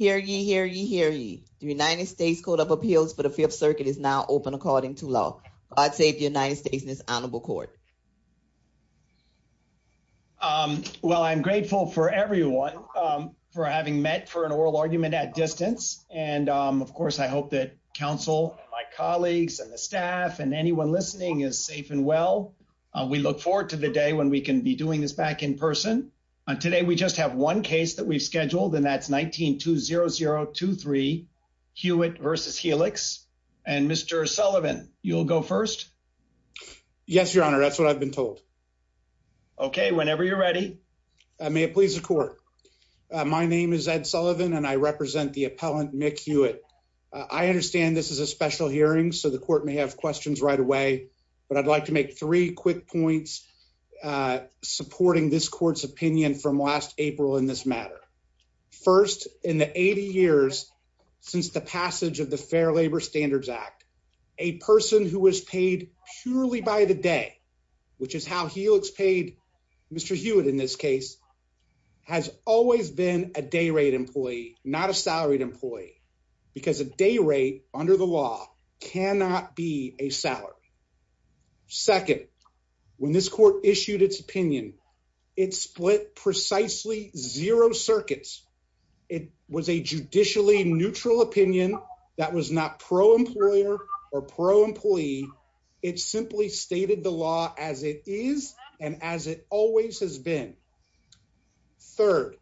al, the United States Code of Appeals for the Fifth Circuit is now open according to law. God save the United States and this honorable court. Well I'm grateful for everyone for having met for an oral argument at distance and of course I hope that counsel and my colleagues and the staff and anyone listening is safe and well. We look forward to the day when we can be doing this back in person. And today we just have one case that we've scheduled and that's 190023 Hewitt v. Helix and Mr. Sullivan, you'll go first. Yes, your honor, that's what I've been told. Okay, whenever you're ready, may it please the court. My name is Ed Sullivan and I represent the appellant, Mick Hewitt. I understand this is a special hearing so the court may have questions right away, but I'd like to make three quick points supporting this court's opinion from last April in this matter. First, in the 80 years since the passage of the Fair Labor Standards Act, a person who was paid purely by the day, which is how Helix paid Mr. Hewitt in this case, has always been a day rate employee, not a salaried employee, because a day rate under the law cannot be a salary. Second, when this court issued its opinion, it split precisely zero circuits. It was a judicially neutral opinion that was not pro-employer or pro-employee. It simply stated the law as it is and as it always has been. Third,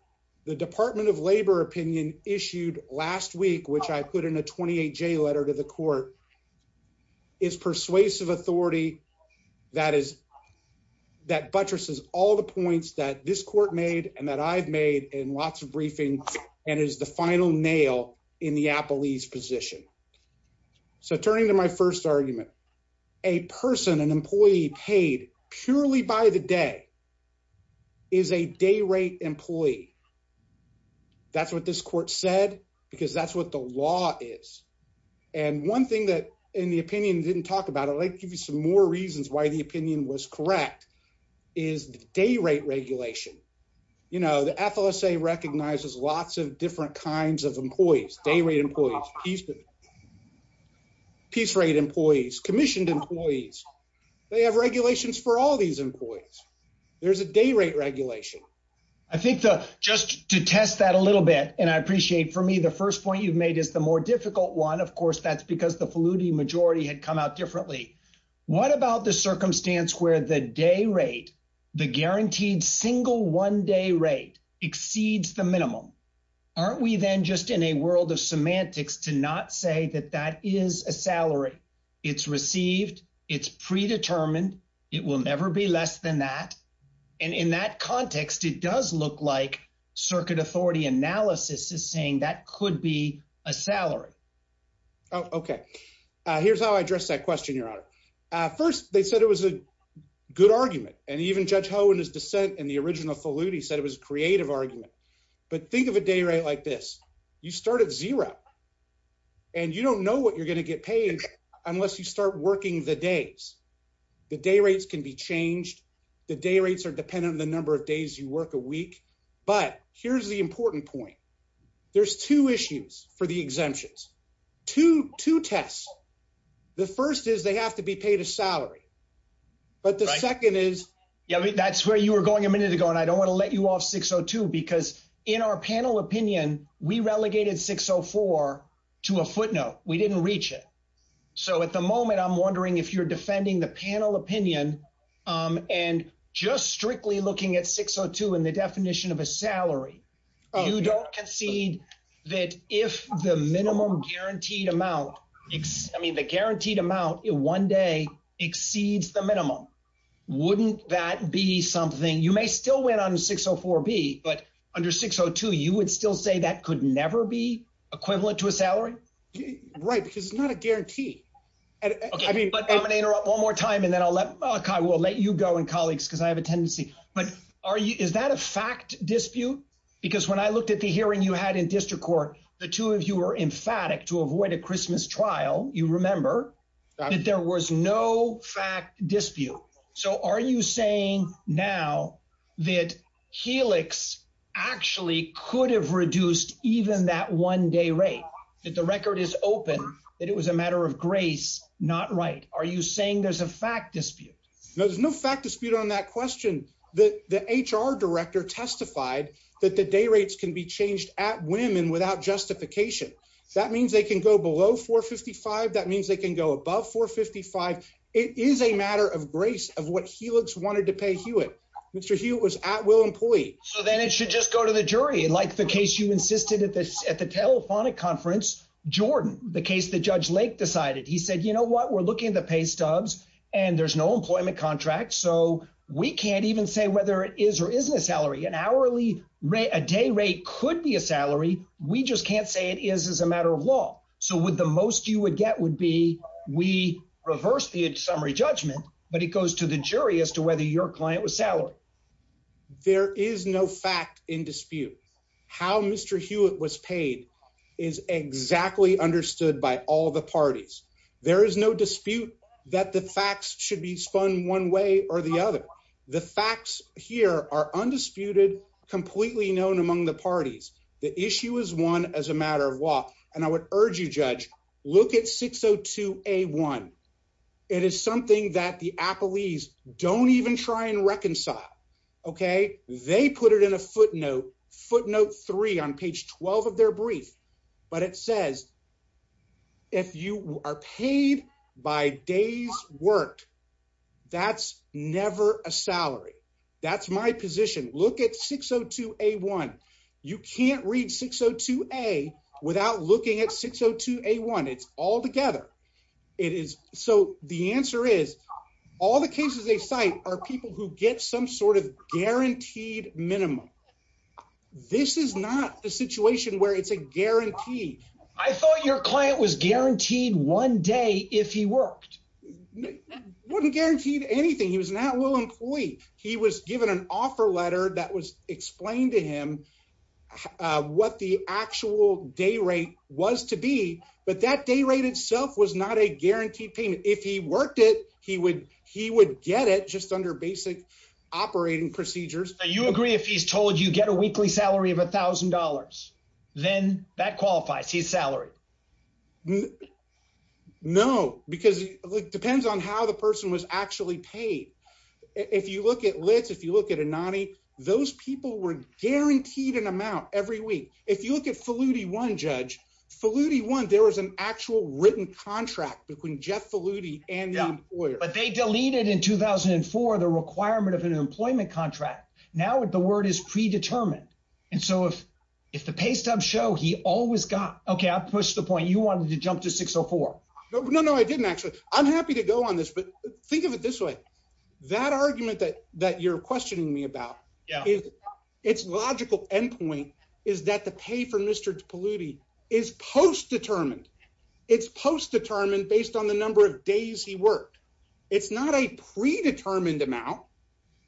the Department of Labor opinion issued last week, which I put in a 28-J letter to the court, is persuasive authority that buttresses all the points that this court made and that I've made in lots of briefings and is the final nail in the appellee's position. So turning to my first argument, a person, an employee paid purely by the day is a day rate employee. That's what this court said, because that's what the law is. And one thing that in the opinion didn't talk about, I'd like to give you some more reasons why the opinion was correct, is the day rate regulation. You know, the FLSA recognizes lots of different kinds of employees, day rate employees, peace rate employees, commissioned employees. They have regulations for all these employees. There's a day rate regulation. I think just to test that a little bit, and I appreciate for me, the first point you've made is the more difficult one, of course, that's because the Flutie majority had come out differently. What about the circumstance where the day rate, the guaranteed single one day rate exceeds the minimum? Aren't we then just in a world of semantics to not say that that is a salary? It's received. It's predetermined. It will never be less than that. And in that context, it does look like circuit authority analysis is saying that could be a salary. Oh, OK. Here's how I address that question, Your Honor. First, they said it was a good argument. And even Judge Ho in his dissent in the original Flutie said it was a creative argument. But think of a day rate like this. You start at zero. And you don't know what you're going to get paid unless you start working the days. The day rates can be changed. The day rates are dependent on the number of days you work a week. But here's the important point. There's two issues for the exemptions to two tests. The first is they have to be paid a salary. But the second is. Yeah. That's where you were going a minute ago. And I don't want to let you off 602 because in our panel opinion, we relegated 604 to a footnote. We didn't reach it. So at the moment, I'm wondering if you're defending the panel opinion and just strictly looking at 602 and the definition of a salary, you don't concede that if the minimum guaranteed amount, I mean, the guaranteed amount in one day exceeds the minimum, wouldn't that be something? You may still win on 604B, but under 602, you would still say that could never be equivalent to a salary. Right. Because it's not a guarantee. I mean. But I'm going to interrupt one more time and then I'll let Kai, we'll let you go and colleagues because I have a tendency. But are you is that a fact dispute? Because when I looked at the hearing you had in district court, the two of you were emphatic to avoid a Christmas trial. You remember that there was no fact dispute. So are you saying now that Helix actually could have reduced even that one day rate that the record is open, that it was a matter of grace, not right? Are you saying there's a fact dispute? No, there's no fact dispute on that question. The HR director testified that the day rates can be changed at whim and without justification. That means they can go below 455. That means they can go above 455. It is a matter of grace of what Helix wanted to pay Hewitt. Mr. Hewitt was at will employee. So then it should just go to the jury. Like the case you insisted at the telephonic conference, Jordan, the case that Judge Lake decided. He said, you know what, we're looking at the pay stubs and there's no employment contract. So we can't even say whether it is or isn't a salary, an hourly rate, a day rate could be a salary. We just can't say it is as a matter of law. So with the most you would get would be we reverse the summary judgment, but it goes to the jury as to whether your client was salary. There is no fact in dispute how Mr. Hewitt was paid is exactly understood by all the parties. There is no dispute that the facts should be spun one way or the other. The facts here are undisputed, completely known among the parties. The issue is one as a matter of law. And I would urge you, Judge, look at 602 A1. It is something that the Apple ease don't even try and reconcile. Okay, they put it in a footnote, footnote three on page 12 of their brief. But it says, if you are paid by days worked, that's never a salary. That's my position. Look at 602 A1. You can't read 602 A without looking at 602 A1. It's all together. It is. So the answer is, all the cases they cite are people who get some sort of guaranteed minimum. This is not the situation where it's a guarantee. I thought your client was guaranteed one day if he worked. Wouldn't guaranteed anything. He was an at will employee. He was given an offer letter that was explained to him what the actual day rate was to be. But that day rate itself was not a guaranteed payment. If he worked it, he would get it just under basic operating procedures. Do you agree if he's told you get a weekly salary of $1,000? Then that qualifies his salary. No, because it depends on how the person was actually paid. If you look at Litz, if you look at Anani, those people were guaranteed an amount every week. If you look at Falluti 1, judge, Falluti 1, there was an actual written contract between Jeff Falluti and the employer. But they deleted in 2004 the requirement of an employment contract. Now the word is predetermined. And so if the pay stubs show he always got, okay, I'll push the point. You wanted to jump to 604. No, no, no, I didn't actually. I'm happy to go on this, but think of it this way. That argument that you're questioning me about, it's logical end point is that the pay for Mr. Falluti is post-determined. It's post-determined based on the number of days he worked. It's not a predetermined amount.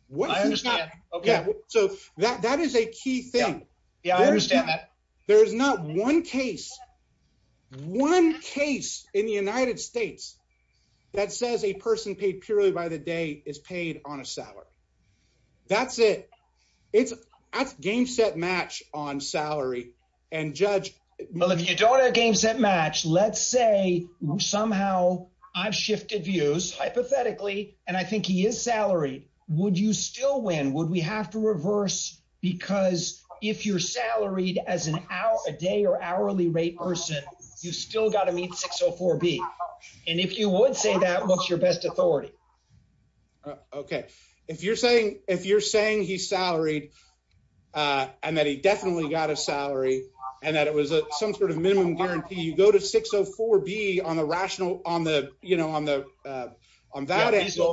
What is not, okay, so that is a key thing. Yeah, I understand that. There's not one case, one case in the United States that says a person paid purely by the day is paid on a salary. That's it. It's a game set match on salary and judge. Well, if you don't have a game set match, let's say somehow I've shifted views hypothetically, and I think he is salaried. Would you still win? Would we have to reverse? Because if you're salaried as a day or hourly rate person, you still gotta meet 604B, and if you would say that, what's your best authority? Okay, if you're saying he's salaried and that he definitely got a salary, and that it was some sort of minimum guarantee, you go to 604B on the rational, on the valid answer,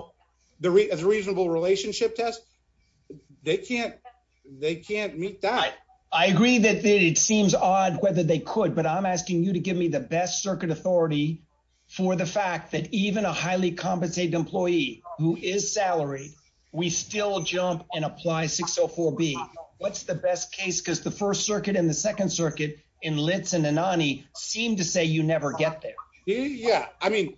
the reasonable relationship test, they can't meet that. I agree that it seems odd whether they could, but I'm asking you to give me the best circuit authority for the fact that even a highly compensated employee who is salaried, we still jump and apply 604B. What's the best case, cuz the First Circuit and the Second Circuit in Litz and Anani seem to say you never get there. Yeah, I mean,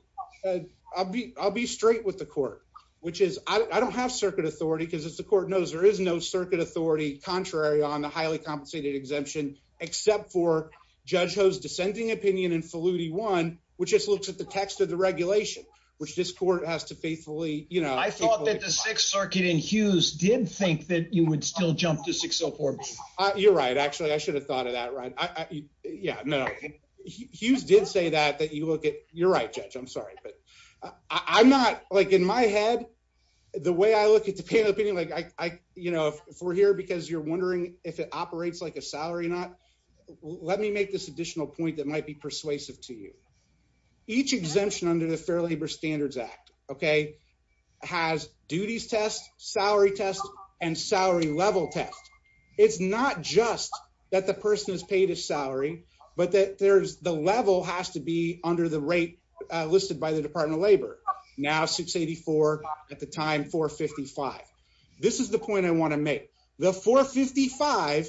I'll be straight with the court, which is, I don't have circuit authority, cuz as the court knows, there is no circuit authority contrary on the highly compensated exemption, except for Judge Ho's dissenting opinion in Falluti 1, which just looks at the text of the regulation, which this court has to faithfully- I thought that the Sixth Circuit in Hughes did think that you would still jump to 604B. You're right, actually, I should have thought of that, right? Yeah, no, Hughes did say that, that you look at, you're right, Judge, I'm sorry. But I'm not, in my head, the way I look at the panel opinion, if we're here because you're wondering if it operates like a salary or not, let me make this additional point that might be persuasive to you. Each exemption under the Fair Labor Standards Act, okay, has duties test, salary test, and salary level test. It's not just that the person is paid a salary, but that the level has to be under the rate listed by the Department of Labor. Now 684, at the time, 455. This is the point I want to make. The 455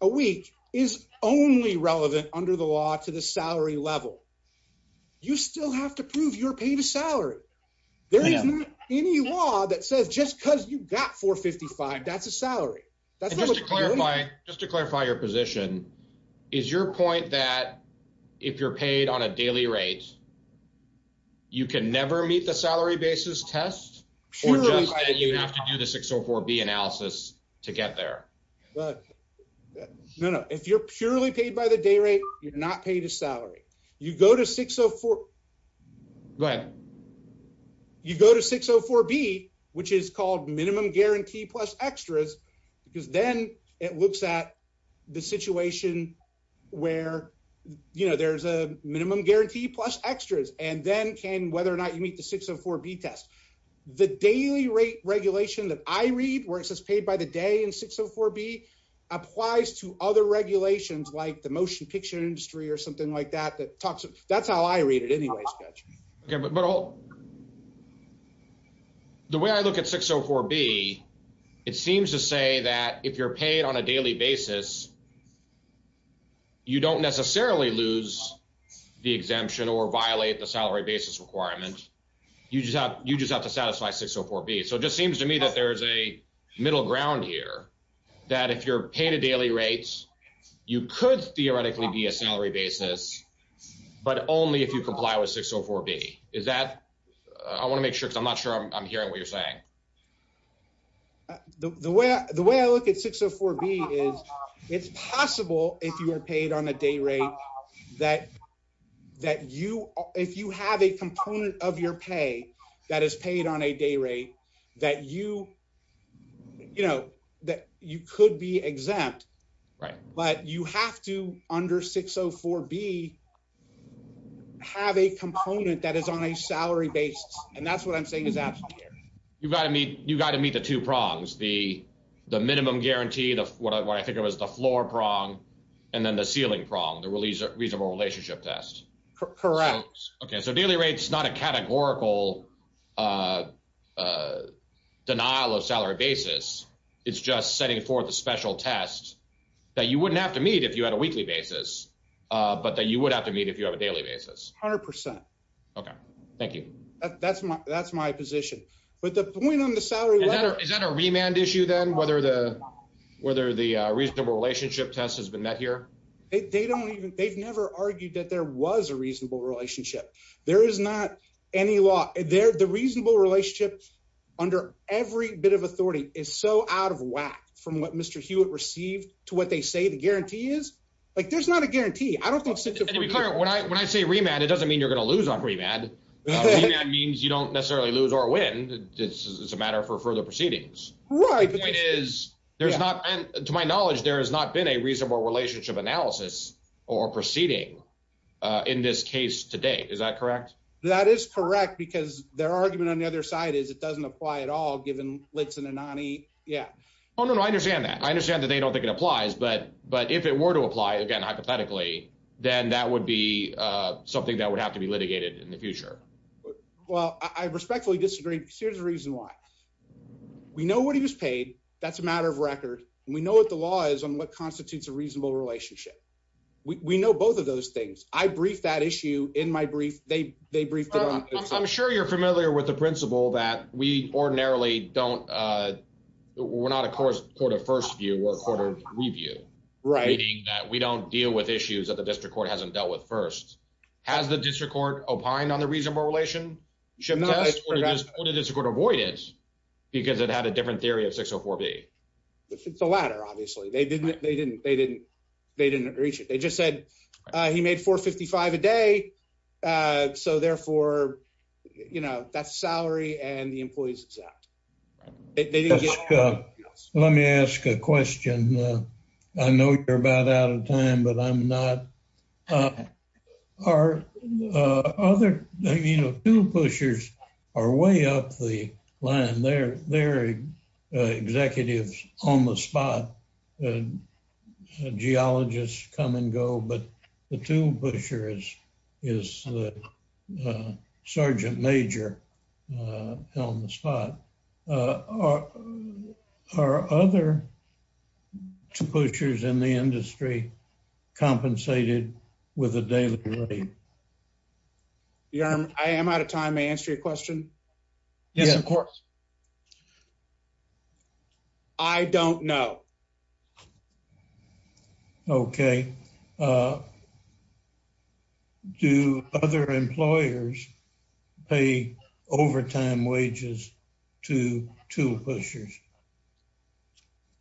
a week is only relevant under the law to the salary level. You still have to prove you're paid a salary. There is not any law that says just because you got 455, that's a salary. That's not a- Just to clarify your position, is your point that if you're paid on a daily rate, you can never meet the salary basis test? Or just that you have to do the 604B analysis to get there? No, no, if you're purely paid by the day rate, you're not paid a salary. You go to 604- Go ahead. You go to 604B, which is called minimum guarantee plus extras, because then it looks at the situation where there's a minimum guarantee plus extras, and then can whether or not you meet the 604B test. The daily rate regulation that I read, where it says paid by the day in 604B, applies to other regulations like the motion picture industry or something like that, that talks, that's how I read it anyways, Judge. Okay, but the way I look at 604B, it seems to say that if you're paid on a daily basis, you don't necessarily lose the exemption or violate the salary basis requirement, you just have to satisfy 604B. So it just seems to me that there's a middle ground here, that if you're paid a daily rate, you could theoretically be a salary basis, but only if you comply with 604B. Is that, I wanna make sure, because I'm not sure I'm hearing what you're saying. The way I look at 604B is, it's possible if you are paid on a day rate, that if you have a component of your pay that is paid on a day rate, that you could be exempt, but you have to under 604B, have a component that is on a salary basis, and that's what I'm saying is absolutely. You gotta meet the two prongs, the minimum guarantee, what I think of as the floor prong, and then the ceiling prong, the reasonable relationship test. Correct. Okay, so daily rate's not a categorical denial of salary basis, it's just setting forth a special test that you wouldn't have to meet if you had a weekly basis, but that you would have to meet if you have a daily basis. 100%. Okay, thank you. That's my position. But the point on the salary- Is that a remand issue then, whether the reasonable relationship test has been met here? They've never argued that there was a reasonable relationship. There is not any law. The reasonable relationship under every bit of authority is so out of whack from what Mr. Hewitt received to what they say the guarantee is. There's not a guarantee. I don't think 604- And to be clear, when I say remand, it doesn't mean you're gonna lose on remand. Remand means you don't necessarily lose or win. It's a matter for further proceedings. Right, but- The point is, to my knowledge, there has not been a reasonable relationship analysis or proceeding in this case to date, is that correct? That is correct, because their argument on the other side is it doesn't apply at all, given Litz and Anani, yeah. No, I understand that. I understand that they don't think it applies, but if it were to apply, again, hypothetically, then that would be something that would have to be litigated in the future. Well, I respectfully disagree, because here's the reason why. We know what he was paid. That's a matter of record. We know what the law is and what constitutes a reasonable relationship. We know both of those things. I briefed that issue in my brief. They briefed it on- I'm sure you're familiar with the principle that we ordinarily don't, we're not a court of first view, we're a court of review. Right. Meaning that we don't deal with issues that the district court hasn't dealt with first. Has the district court opined on the reasonable relationship test, or did the district court avoid it? Because it had a different theory of 604B. It's the latter, obviously. They didn't reach it. They just said, he made 455 a day, so therefore, They didn't get- Let me ask a question. I know you're about out of time, but I'm not- Our other tool pushers are way up the line. They're executives on the spot, geologists come and go, but the tool pusher is the sergeant major on the spot. Are other tool pushers in the industry compensated with a daily rate? I am out of time. May I answer your question? Yes, of course. I don't know. Okay. Do other employers pay overtime wages to tool pushers?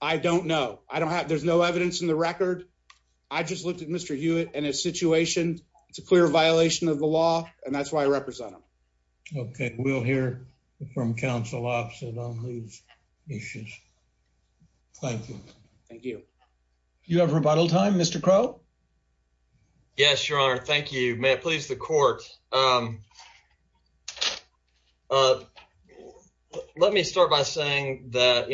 I don't know. I don't have- There's no evidence in the record. I just looked at Mr. Hewitt and his situation. It's a clear violation of the law, and that's why I represent him. Okay. We'll hear from council opposite on these issues. Thank you. Thank you. You have rebuttal time, Mr. Crow? Yes, your honor. Thank you. May it please the court. Let me start by saying that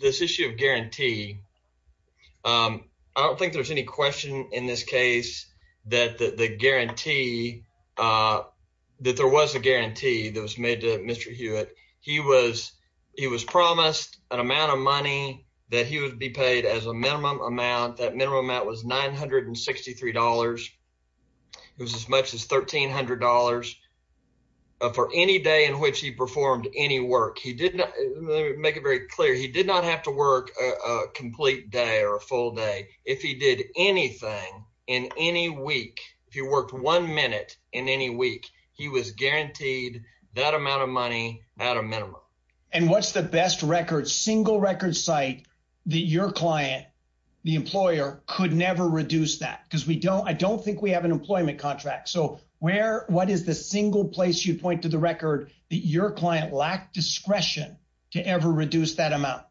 this issue of guarantee, I don't think there's any question in this case that there was a guarantee that was made to Mr. Hewitt. He was promised an amount of money that he would be paid as a minimum amount. That minimum amount was $963. It was as much as $1,300 for any day in which he performed any work. He did not- Let me make it very clear. He did not have to work a complete day or a full day. If he did anything in any week, if he worked one minute in any week, he was guaranteed that amount of money at a minimum. And what's the best record, single record site that your client, the employer, could never reduce that? Because I don't think we have an employment contract. So, what is the single place you'd point to the record that your client lacked discretion to ever reduce that amount?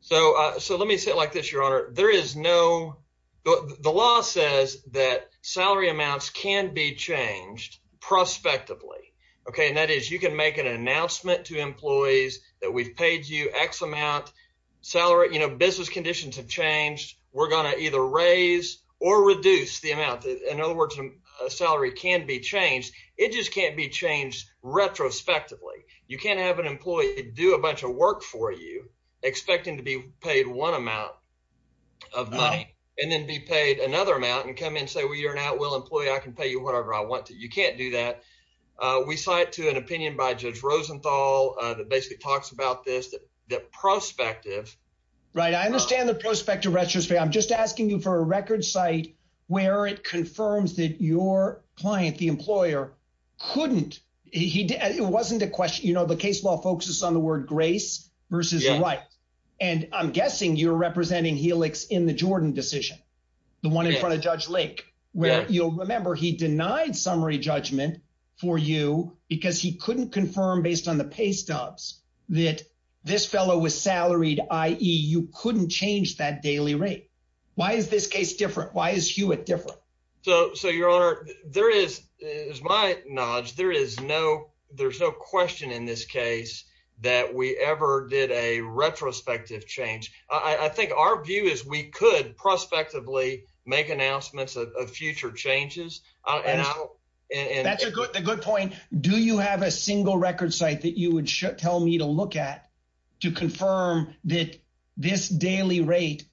So, let me say it like this, your honor. There is no- The law says that salary amounts can be changed prospectively, okay? And that is you can make an announcement to employees that we've paid you X amount. Salary, you know, business conditions have changed. We're going to either raise or reduce the amount. In other words, a salary can be changed. It just can't be changed retrospectively. You can't have an employee do a bunch of work for you expecting to be paid one amount of money and then be paid another amount and come and say, well, you're an outwell employee. I can pay you whatever I want to. You can't do that. We cite to an opinion by Judge Rosenthal that basically talks about this, that prospective- Right, I understand the prospective retrospect. I'm just asking you for a record site where it confirms that your client, the employer, couldn't. It wasn't a question, you know, the case law focuses on the word grace versus the right. And I'm guessing you're representing Helix in the Jordan decision, the one in front of Judge Lake, where you'll remember he denied summary judgment for you because he couldn't confirm based on the pay stubs that this fellow was salaried, i.e. you couldn't change that daily rate. Why is this case different? Why is Hewitt different? So, your honor, there is, as my knowledge, there's no question in this case that we ever did a retrospective change. I think our view is we could prospectively make announcements of future changes. That's a good point. Do you have a single record site that you would tell me to look at to confirm that this daily rate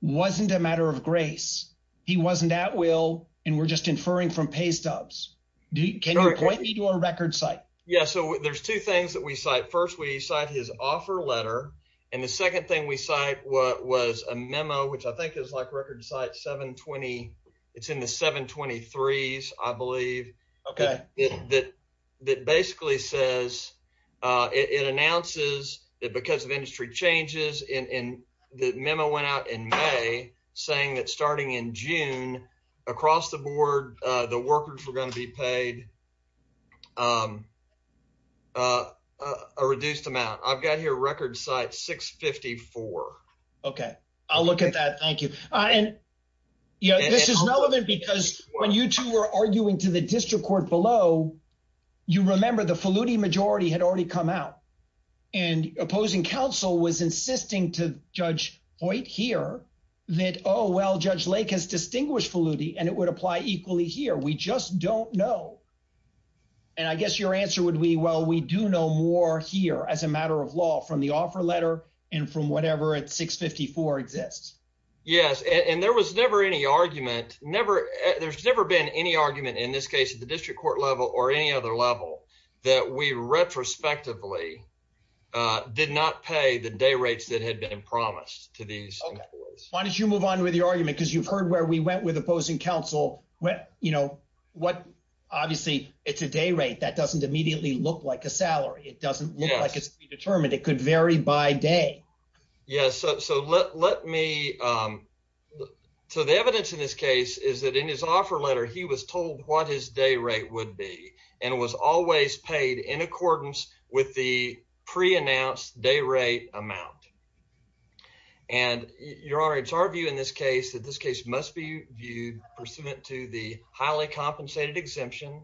wasn't a matter of grace? He wasn't at will, and we're just inferring from pay stubs. Can you point me to a record site? Yeah, so there's two things that we cite. And the second thing we cite was a memo, which I think is like record site 720. It's in the 723s, I believe. Okay. That basically says, it announces that because of industry changes, the memo went out in May saying that starting in June, across the board, the workers were going to be paid a reduced amount. I've got here record site 654. Okay, I'll look at that. Thank you. This is relevant because when you two were arguing to the district court below, you remember the Faludi majority had already come out and opposing counsel was insisting to Judge Hoyt here that, oh, well, Judge Lake has distinguished Faludi and it would apply equally here. We just don't know. And I guess your answer would be, well, we do know more here as a matter of law from the offer letter and from whatever at 654 exists. Yes, and there was never any argument. There's never been any argument in this case at the district court level or any other level that we retrospectively did not pay the day rates that had been promised to these employees. Why don't you move on with your argument? Because you've heard where we went with opposing counsel. Obviously, it's a day rate that doesn't immediately look like a salary. It doesn't look like it's to be determined. It could vary by day. Yes, so let me. So the evidence in this case is that in his offer letter, he was told what his day rate would be and was always paid in accordance with the pre-announced day rate amount. And your honor, it's our view in this case that this case must be viewed pursuant to the highly compensated exemption,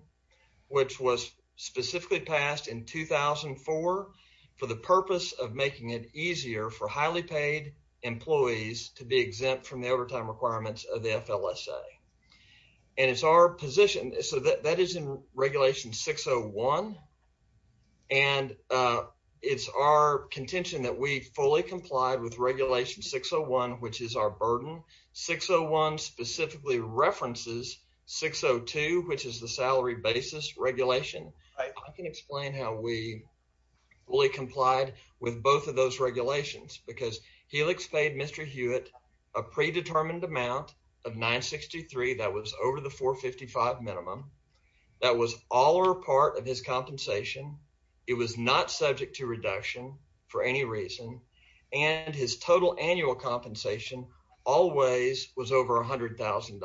which was specifically passed in 2004 for the purpose of making it easier for highly paid employees to be exempt from the overtime requirements of the FLSA. And it's our position. So that is in regulation 601. And it's our contention that we fully complied with regulation 601, which is our burden. 601 specifically references 602, which is the salary basis regulation. I can explain how we fully complied with both of those regulations because Helix paid Mr. Hewitt a predetermined amount of 963 that was over the 455 minimum. That was all or part of his compensation. It was not subject to reduction for any reason. And his total annual compensation always was over $100,000.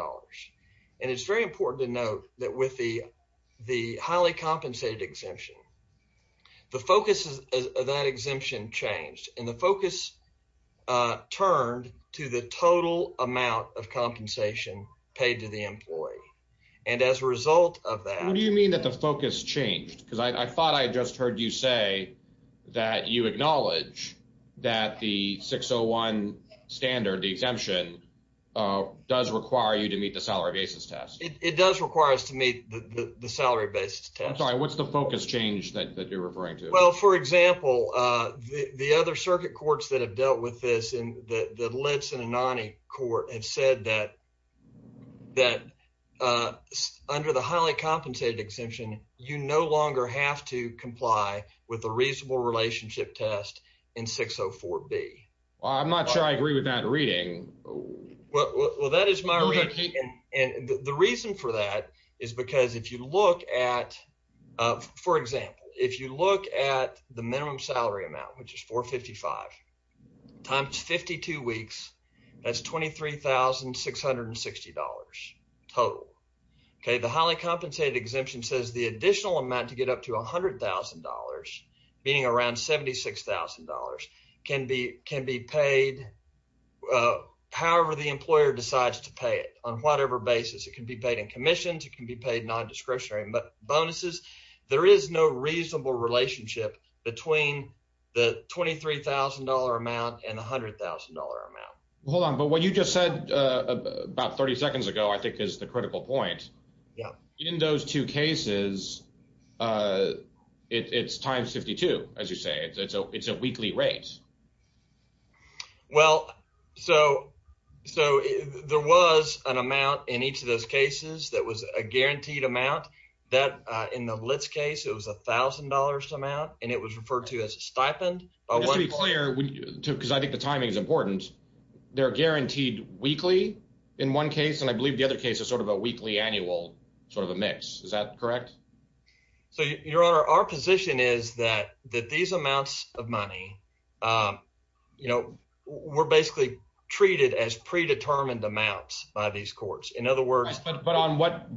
And it's very important to note that with the highly compensated exemption, the focus of that exemption changed and the focus turned to the total amount of compensation paid to the employee. And as a result of that- What do you mean that the focus changed? Because I thought I had just heard you say that you acknowledge that the 601 standard, the exemption does require you to meet the salary basis test. It does require us to meet the salary basis test. I'm sorry, what's the focus change that you're referring to? Well, for example, the other circuit courts that have dealt with this and the Litz and Anani court have said that under the highly compensated exemption, you no longer have to comply with the reasonable relationship test in 604B. Well, I'm not sure I agree with that reading. Well, that is my reading. And the reason for that is because if you look at, for example, if you look at the minimum salary amount, which is 455 times 52 weeks, that's $23,660 total. The highly compensated exemption says the additional amount to get up to $100,000, being around $76,000 can be paid however the employer decides to pay it on whatever basis. It can be paid in commissions, it can be paid non-discretionary bonuses. There is no reasonable relationship between the $23,000 amount and $100,000 amount. Hold on, but what you just said about 30 seconds ago, I think is the critical point. In those two cases, it's times 52, as you say. It's a weekly rate. Well, so there was an amount in each of those cases that was a guaranteed amount that in the LITS case, it was $1,000 amount and it was referred to as a stipend. Just to be clear, because I think the timing is important, they're guaranteed weekly in one case, and I believe the other case is sort of a weekly, annual sort of a mix. Is that correct? So, your honor, our position is that these amounts of money were basically treated as predetermined amounts by these courts. In other words- But on what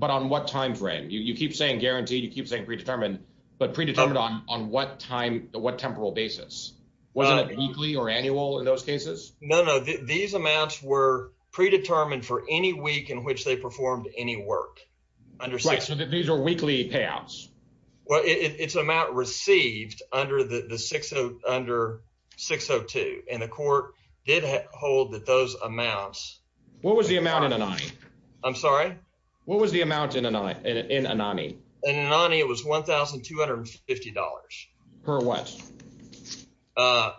timeframe? You keep saying guaranteed, you keep saying predetermined, but predetermined on what temporal basis? Wasn't it weekly or annual in those cases? No, no, these amounts were predetermined for any week in which they performed any work. Right, so these are weekly payouts. Well, it's amount received under 602, and the court did hold that those amounts- What was the amount in Anani? I'm sorry? What was the amount in Anani? In Anani, it was $1,250. Per what? Per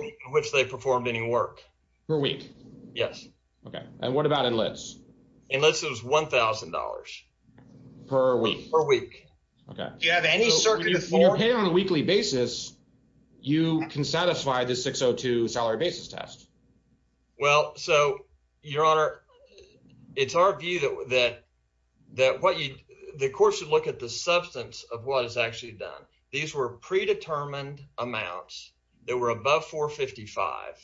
week in which they performed any work. Per week? Yes. Okay, and what about in LITS? In LITS, it was $1,000. Per week? Per week. Okay. Do you have any circuit of four? When you're paying on a weekly basis, you can satisfy the 602 salary basis test. Well, so, your honor, it's our view that what you, the courts should look at the substance of what is actually done. These were predetermined amounts that were above 455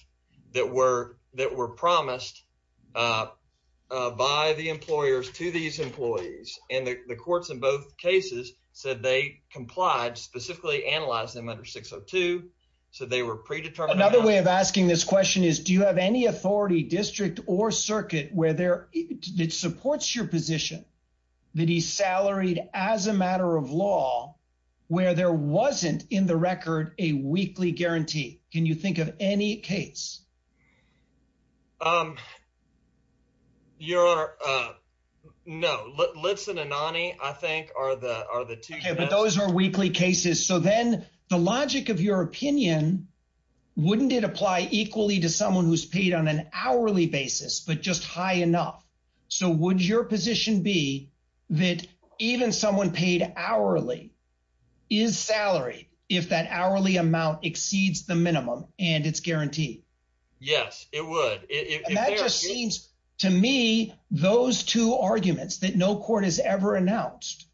that were promised by the employers to these employees, and the courts in both cases said they complied, specifically analyzed them under 602, so they were predetermined- Another way of asking this question is, do you have any authority district or circuit where it supports your position that he's salaried as a matter of law where there wasn't in the record a weekly guarantee? Can you think of any case? Your honor, no, LITS and Anani, I think are the two- Okay, but those are weekly cases, so then the logic of your opinion, wouldn't it apply equally to someone who's paid on an hourly basis, but just high enough? So, would your position be that even someone paid hourly is salaried if that hourly amount exceeds the minimum and it's guaranteed? Yes, it would. And that just seems to me those two arguments that no court has ever announced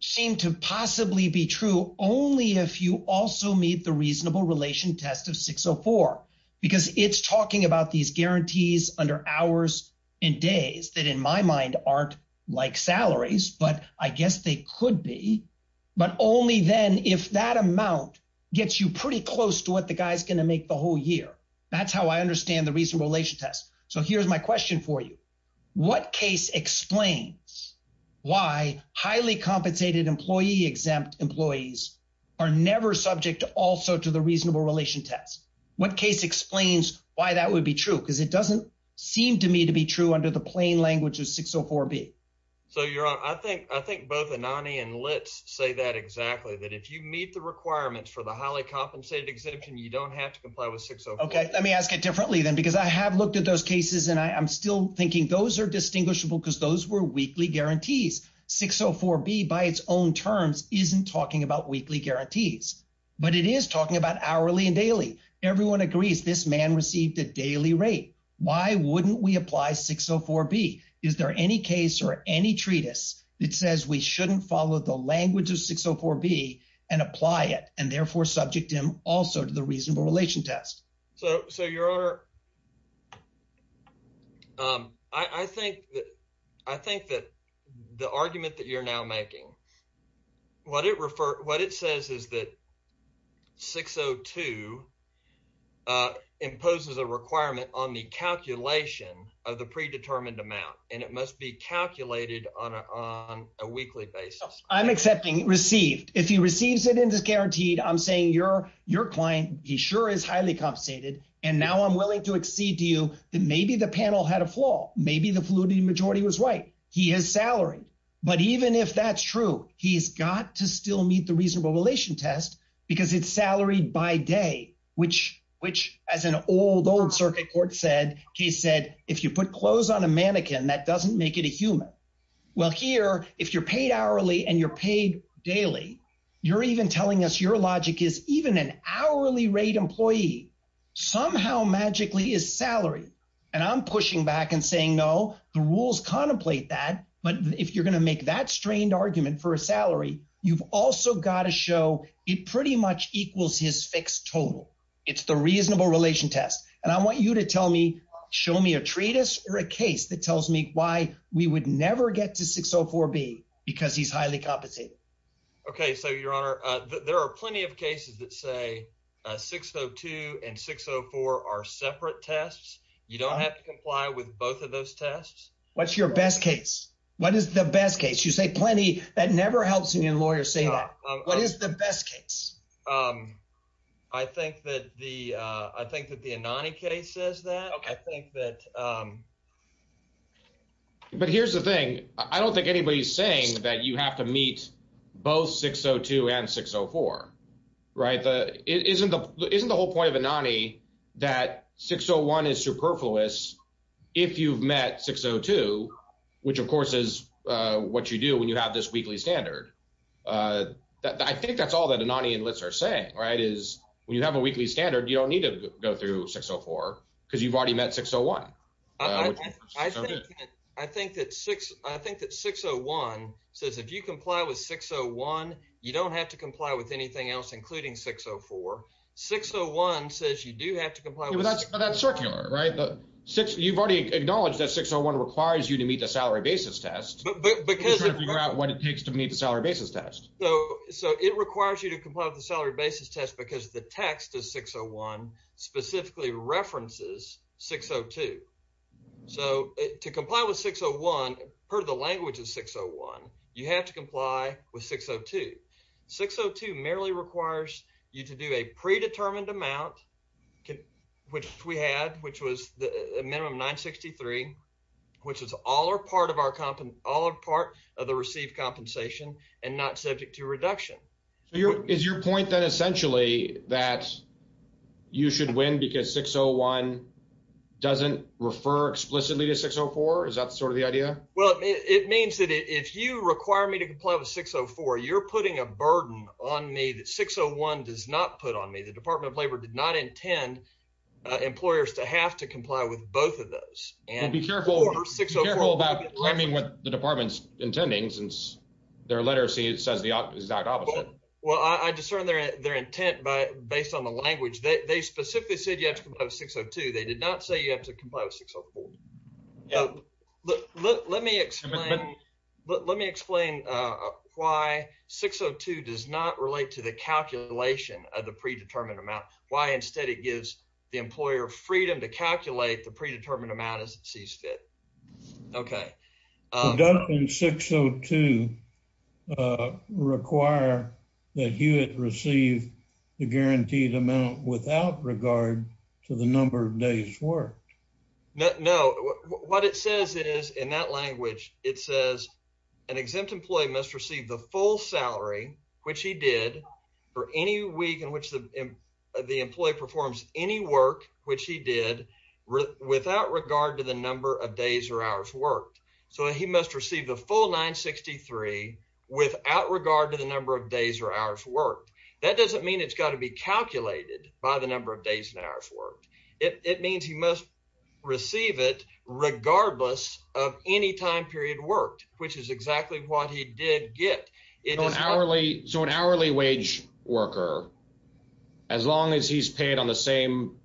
seem to possibly be true only if you also meet the reasonable relation test of 604, because it's talking about these guarantees under hours and days that in my mind aren't like salaries, but I guess they could be, but only then if that amount gets you pretty close to what the guy's gonna make the whole year. That's how I understand the reasonable relation test. So, here's my question for you. What case explains why highly compensated employee exempt employees are never subject also to the reasonable relation test? What case explains why that would be true? Because it doesn't seem to me to be true under the plain language of 604B. So, your honor, I think both Anani and LITS say that exactly, that if you meet the requirements for the highly compensated exemption, you don't have to comply with 604B. Let me ask it differently then, because I have looked at those cases and I'm still thinking those are distinguishable because those were weekly guarantees. 604B by its own terms, isn't talking about weekly guarantees, but it is talking about hourly and daily. Everyone agrees this man received a daily rate. Why wouldn't we apply 604B? Is there any case or any treatise that says we shouldn't follow the language of 604B and apply it and therefore subject him also to the reasonable relation test? So, your honor, I think that the argument that you're now making, what it says is that 602 imposes a requirement on the calculation of the predetermined amount and it must be calculated on a weekly basis. I'm accepting received. If he receives it and is guaranteed, I'm saying your client, he sure is highly compensated and now I'm willing to accede to you that maybe the panel had a flaw. Maybe the fluidity majority was right. He is salaried. But even if that's true, he's got to still meet the reasonable relation test because it's salaried by day, which as an old, old circuit court said, he said, if you put clothes on a mannequin, that doesn't make it a human. Well, here, if you're paid hourly and you're paid daily, you're even telling us your logic is even an hourly rate employee. Somehow magically is salary. And I'm pushing back and saying, no, the rules contemplate that. But if you're going to make that strained argument for a salary, you've also got to show it pretty much equals his fixed total. It's the reasonable relation test. And I want you to tell me, show me a treatise or a case that tells me why we would never get to 604B because he's highly compensated. Okay. So your honor, there are plenty of cases that say 602 and 604 are separate tests. You don't have to comply with both of those tests. What's your best case? What is the best case? You say plenty. That never helps a lawyer say that. What is the best case? I think that the Anani case says that. But here's the thing. I don't think anybody's saying that you have to meet both 602 and 604, right? Isn't the whole point of Anani that 601 is superfluous if you've met 602, which of course is what you do when you have this weekly standard. I think that's all that Anani and Litts are saying, right? Is when you have a weekly standard, you don't need to go through 604 because you've already met 601. I think that 601 says, if you comply with 601, you don't have to comply with anything else, including 604. 601 says you do have to comply with- Yeah, but that's circular, right? You've already acknowledged that 601 requires you to meet the salary basis test. You're trying to figure out what it takes to meet the salary basis test. So it requires you to comply with the salary basis test because the text of 601 specifically references 602. So to comply with 601, part of the language of 601, you have to comply with 602. 602 merely requires you to do a predetermined amount, which we had, which was the minimum 963, which is all or part of the received compensation and not subject to reduction. Is your point then essentially that you should win because 601 doesn't refer explicitly to 604? Is that sort of the idea? Well, it means that if you require me to comply with 604, you're putting a burden on me that 601 does not put on me. The Department of Labor did not intend employers to have to comply with both of those. Well, be careful about claiming what the department's intending since their literacy says the exact opposite. Well, I discern their intent based on the language. They specifically said you have to comply with 602. They did not say you have to comply with 604. Let me explain why 602 does not relate to the calculation of the predetermined amount. Why instead it gives the employer freedom to calculate the predetermined amount as it sees fit. Okay. Doesn't 602 require that you receive the guaranteed amount without regard to the number of days worked? No. What it says is in that language, it says an exempt employee must receive the full salary, which he did for any week in which the employee performs any work, which he did without regard to the number of days or hours worked. So he must receive the full 963 without regard to the number of days or hours worked. That doesn't mean it's got to be calculated by the number of days and hours worked. It means he must receive it regardless of any time period worked, which is exactly what he did get. So an hourly wage worker, as long as he's paid on the same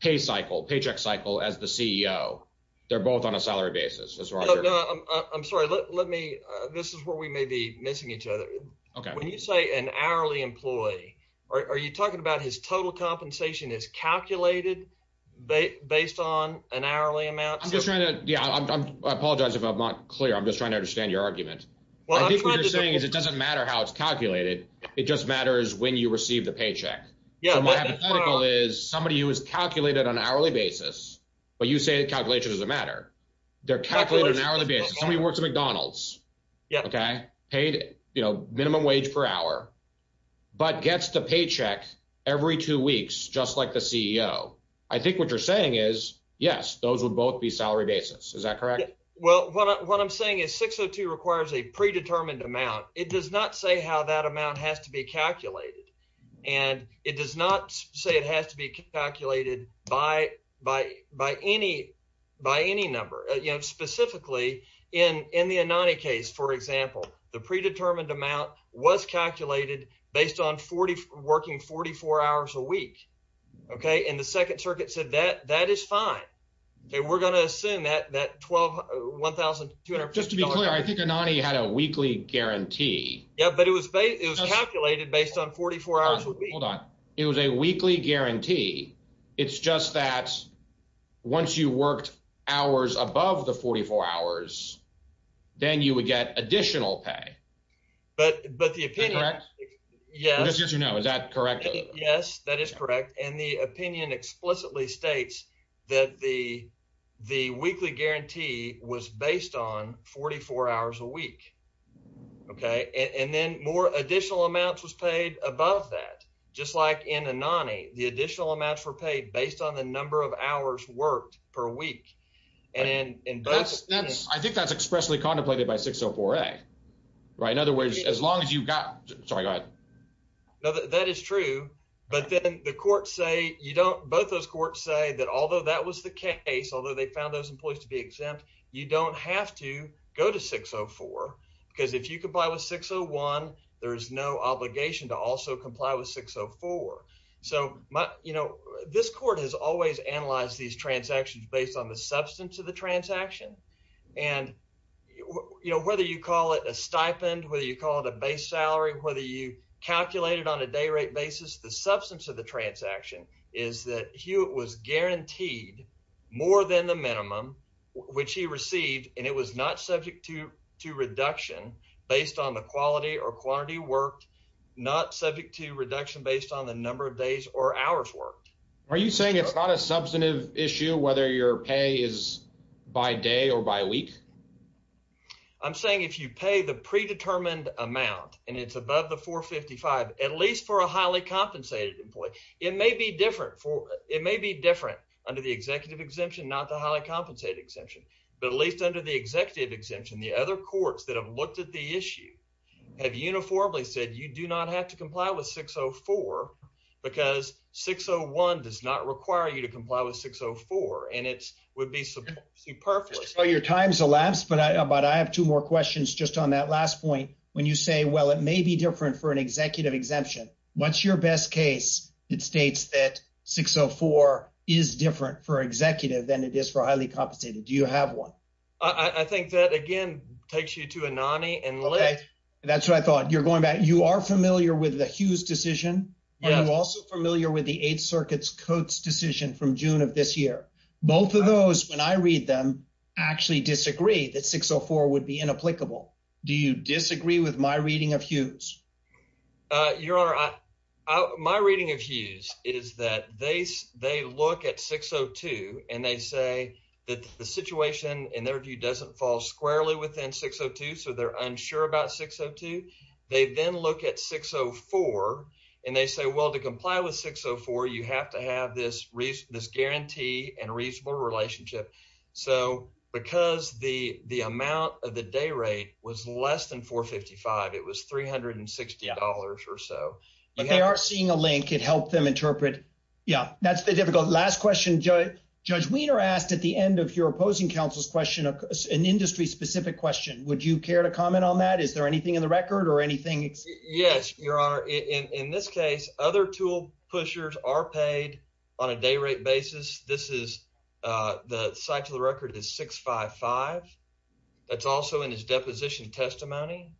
pay cycle, paycheck cycle as the CEO, they're both on a salary basis. I'm sorry. Let me, this is where we may be missing each other. Okay. When you say an hourly employee, are you talking about his total compensation is calculated based on an hourly amount? I'm just trying to, yeah, I apologize if I'm not clear. I'm just trying to understand your argument. Well, I think what you're saying is it doesn't matter how it's calculated. It just matters when you receive the paycheck. So my hypothetical is somebody who is calculated on an hourly basis, but you say the calculation doesn't matter. They're calculated on an hourly basis. Somebody works at McDonald's. Okay. Paid minimum wage per hour, but gets the paycheck every two weeks, just like the CEO. I think what you're saying is, yes, those would both be salary basis. Is that correct? Well, what I'm saying is 602 requires a predetermined amount. It does not say how that amount has to be calculated. And it does not say it has to be calculated by any number, you know, specifically in the Anani case, for example, the predetermined amount was calculated based on working 44 hours a week. Okay. And the second circuit said that, that is fine. Okay. We're going to assume that 12, $1,250. Just to be clear, I think Anani had a weekly guarantee. Yeah, but it was calculated based on 44 hours a week. Hold on. It was a weekly guarantee. It's just that once you worked hours above the 44 hours, then you would get additional pay. But the opinion... Is that correct? Yes. I'm just here to know, is that correct? Yes, that is correct. And the opinion explicitly states that the weekly guarantee was based on 44 hours a week. Okay. And then more additional amounts was paid above that. Just like in Anani, the additional amounts were paid based on the number of hours worked per week. And in both... I think that's expressly contemplated by 604A, right? In other words, as long as you've got... Sorry, go ahead. That is true. But then the courts say you don't... Both those courts say that although that was the case, although they found those employees to be exempt, you don't have to go to 604 because if you comply with 601, there is no obligation to also comply with 604. So this court has always analyzed these transactions based on the substance of the transaction. And whether you call it a stipend, whether you call it a base salary, whether you calculate it on a day rate basis, the substance of the transaction is that Hewitt was guaranteed more than the minimum, which he received, and it was not subject to reduction based on the quality or quantity worked, not subject to reduction based on the number of days or hours worked. Are you saying it's not a substantive issue whether your pay is by day or by week? I'm saying if you pay the predetermined amount and it's above the 455, at least for a highly compensated employee, it may be different under the executive exemption, not the highly compensated exemption, but at least under the executive exemption, the other courts that have looked at the issue have uniformly said you do not have to comply with 604 because 601 does not require you to comply with 604 and it would be superfluous. Well, your time's elapsed, but I have two more questions just on that last point. When you say, well, it may be different for an executive exemption. What's your best case? It states that 604 is different for executive than it is for highly compensated. Do you have one? I think that again, takes you to Anani and Lit. That's what I thought. You're going back. You are familiar with the Hughes decision. You're also familiar with the Eighth Circuit's Coates decision from June of this year. Both of those, when I read them, actually disagree that 604 would be inapplicable. Do you disagree with my reading of Hughes? Your honor, my reading of Hughes is that they look at 602 and they say that the situation in their view doesn't fall squarely within 602. So they're unsure about 602. They then look at 604 and they say, well, to comply with 604, you have to have this guarantee and reasonable relationship. So because the amount of the day rate was less than $455, it was $360 or so. But they are seeing a link. It helped them interpret. Yeah, that's the difficult last question. Judge Wiener asked at the end of your opposing counsel's question, an industry specific question. Would you care to comment on that? Is there anything in the record or anything? Yes, your honor. In this case, other tool pushers are paid on a day rate basis. This is, the site to the record is 655. That's also in his deposition testimony.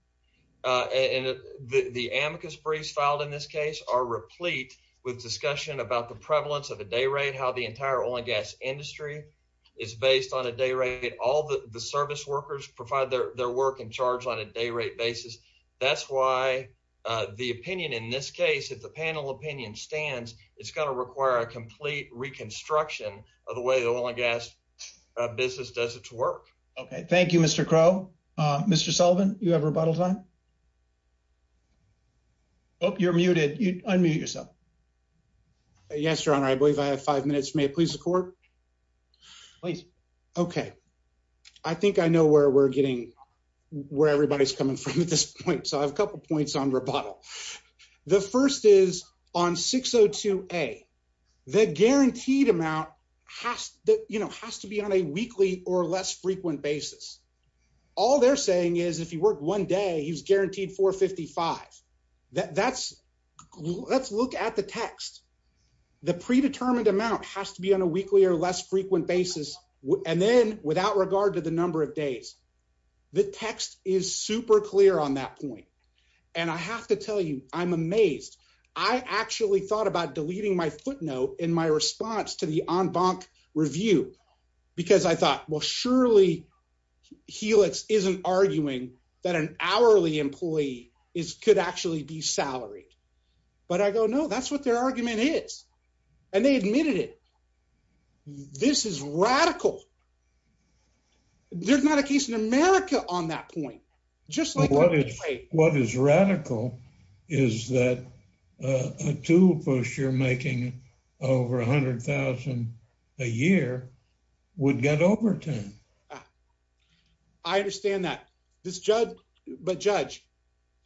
And the amicus briefs filed in this case are replete with discussion about the prevalence of a day rate, how the entire oil and gas industry is based on a day rate. All the service workers provide their work and charge on a day rate basis. That's why the opinion in this case, if the panel opinion stands, it's going to require a complete reconstruction of the way the oil and gas business does its work. Okay. Thank you, Mr. Crow. Mr. Sullivan, you have rebuttal time. Oh, you're muted. You unmute yourself. Yes, your honor. I believe I have five minutes. May I please support? Please. Okay. I think I know where we're getting, where everybody's coming from at this point. So I have a couple of points on rebuttal. The first is on 602A, the guaranteed amount has to be on a weekly or less frequent basis. All they're saying is if you work one day, he's guaranteed 455. Let's look at the text. The predetermined amount has to be on a weekly or less frequent basis. And then without regard to the number of days, the text is super clear on that point. And I have to tell you, I'm amazed. I actually thought about deleting my footnote in my response to the en banc review, because I thought, well, surely Helix isn't arguing that an hourly employee could actually be salaried. But I go, no, that's what their argument is. And they admitted it. This is radical. There's not a case in America on that point. Just like what is radical is that a tool push you're making over 100,000 a year would get overturned. I understand that. This judge, but judge,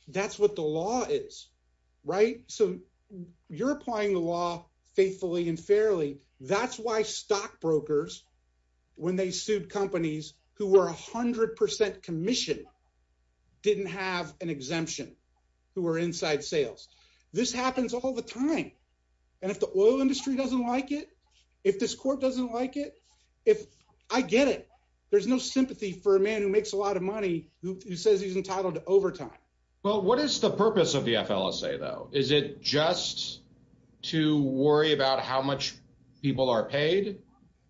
that's what the law is, right? So you're applying the law faithfully and fairly. That's why stockbrokers, when they sued companies who were 100% commissioned, didn't have an exemption who were inside sales. This happens all the time. And if the oil industry doesn't like it, if this court doesn't like it, if I get it, there's no sympathy for a man who makes a lot of money who says he's entitled to overtime. Well, what is the purpose of the FLSA though? Is it just to worry about how much people are paid?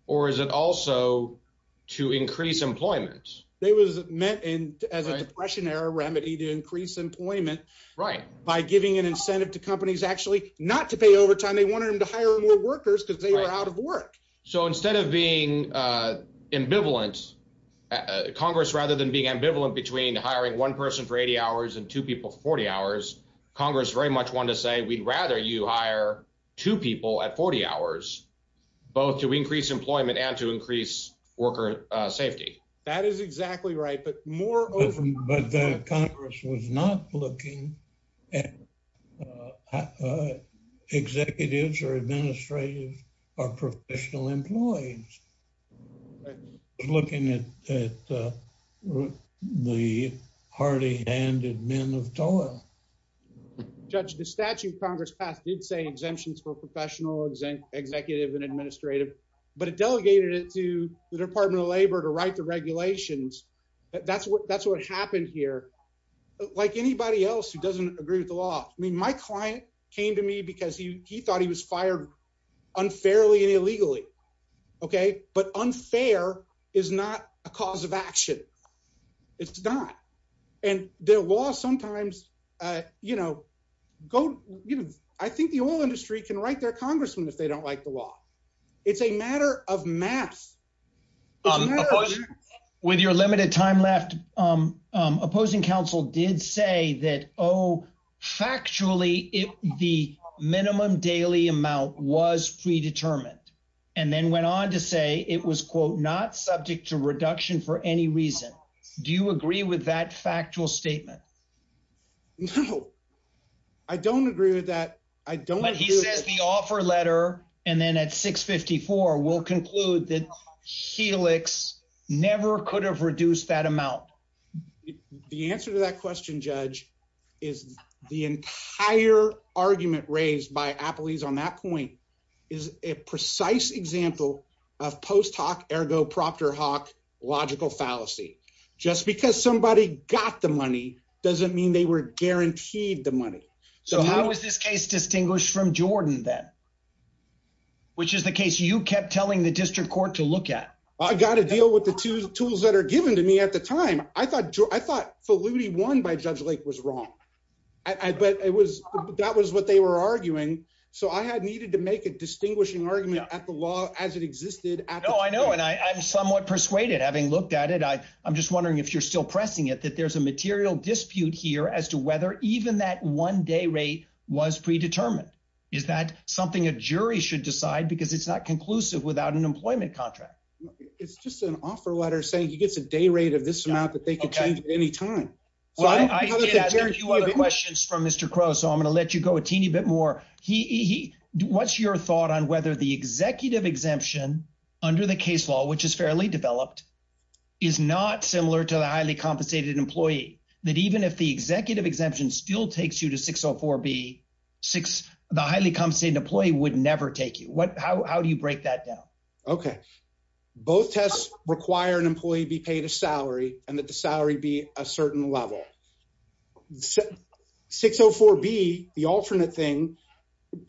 Or is it also to increase employment? They was meant as a depression era remedy to increase employment by giving an incentive to companies actually not to pay overtime. They wanted them to hire more workers because they were out of work. So instead of being ambivalent, Congress, rather than being ambivalent between hiring one person for 80 hours and two people for 40 hours, Congress very much wanted to say, we'd rather you hire two people at 40 hours, both to increase employment and to increase worker safety. That is exactly right. But Congress was not looking at executives or administrative or professional employees, looking at the hardy handed men of toil. Judge, the statute Congress passed did say exemptions for professional, executive and administrative, but it delegated it to the Department of Labor to write the regulations. That's what happened here. Like anybody else who doesn't agree with the law. I mean, my client came to me because he thought he was fired unfairly and illegally. But unfair is not a cause of action. It's not. And the law sometimes, you know, I think the oil industry can write their congressman if they don't like the law. It's a matter of mass. With your limited time left, opposing counsel did say that, oh, factually, the minimum daily amount was predetermined, and then went on to say it was, quote, not subject to reduction for any reason. Do you agree with that factual statement? No, I don't agree with that. I don't. But he says the offer letter and then at 654 will conclude that Helix never could have reduced that amount. The answer to that question, Judge, is the entire argument raised by Applebee's on that point is a precise example of post hoc ergo proctor hoc logical fallacy. Just because somebody got the money doesn't mean they were guaranteed the money. So how is this case distinguished from Jordan then? Which is the case you kept telling the district court to look at. I got to deal with the two tools that are given to me at the time. I thought I thought Faludi won by Judge Lake was wrong. But it was that was what they were arguing. So I had needed to make a distinguishing argument at the law as it existed. Oh, I know. And I'm somewhat persuaded having looked at it. I I'm just wondering if you're still pressing it, that there's a material dispute here as to whether even that one day rate was predetermined. Is that something a jury should decide because it's not conclusive without an employment contract? It's just an offer letter saying he gets a day rate of this amount that they can change at any time. I did ask a few other questions from Mr. Crow. So I'm going to let you go a teeny bit more. He what's your thought on whether the executive exemption under the case law, which is fairly developed, is not similar to the highly compensated employee that even if the executive exemption still takes you to 604 B, six, the highly compensated employee would never take you. What how do you break that down? OK, both tests require an employee be paid a salary and that the salary be a certain level. 604 B, the alternate thing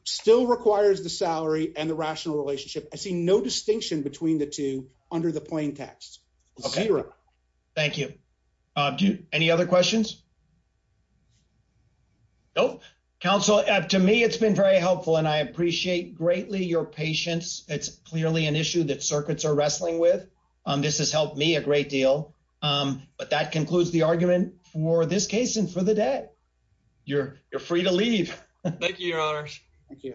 still requires the salary and the rational relationship. I see no distinction between the two under the plaintext. Thank you. Any other questions? Nope. Counsel, to me, it's been very helpful and I appreciate greatly your patience. It's clearly an issue that circuits are wrestling with. This has helped me a great deal. But that concludes the argument for this case and for the day. You're you're free to leave. Thank you, your honor. Thank you.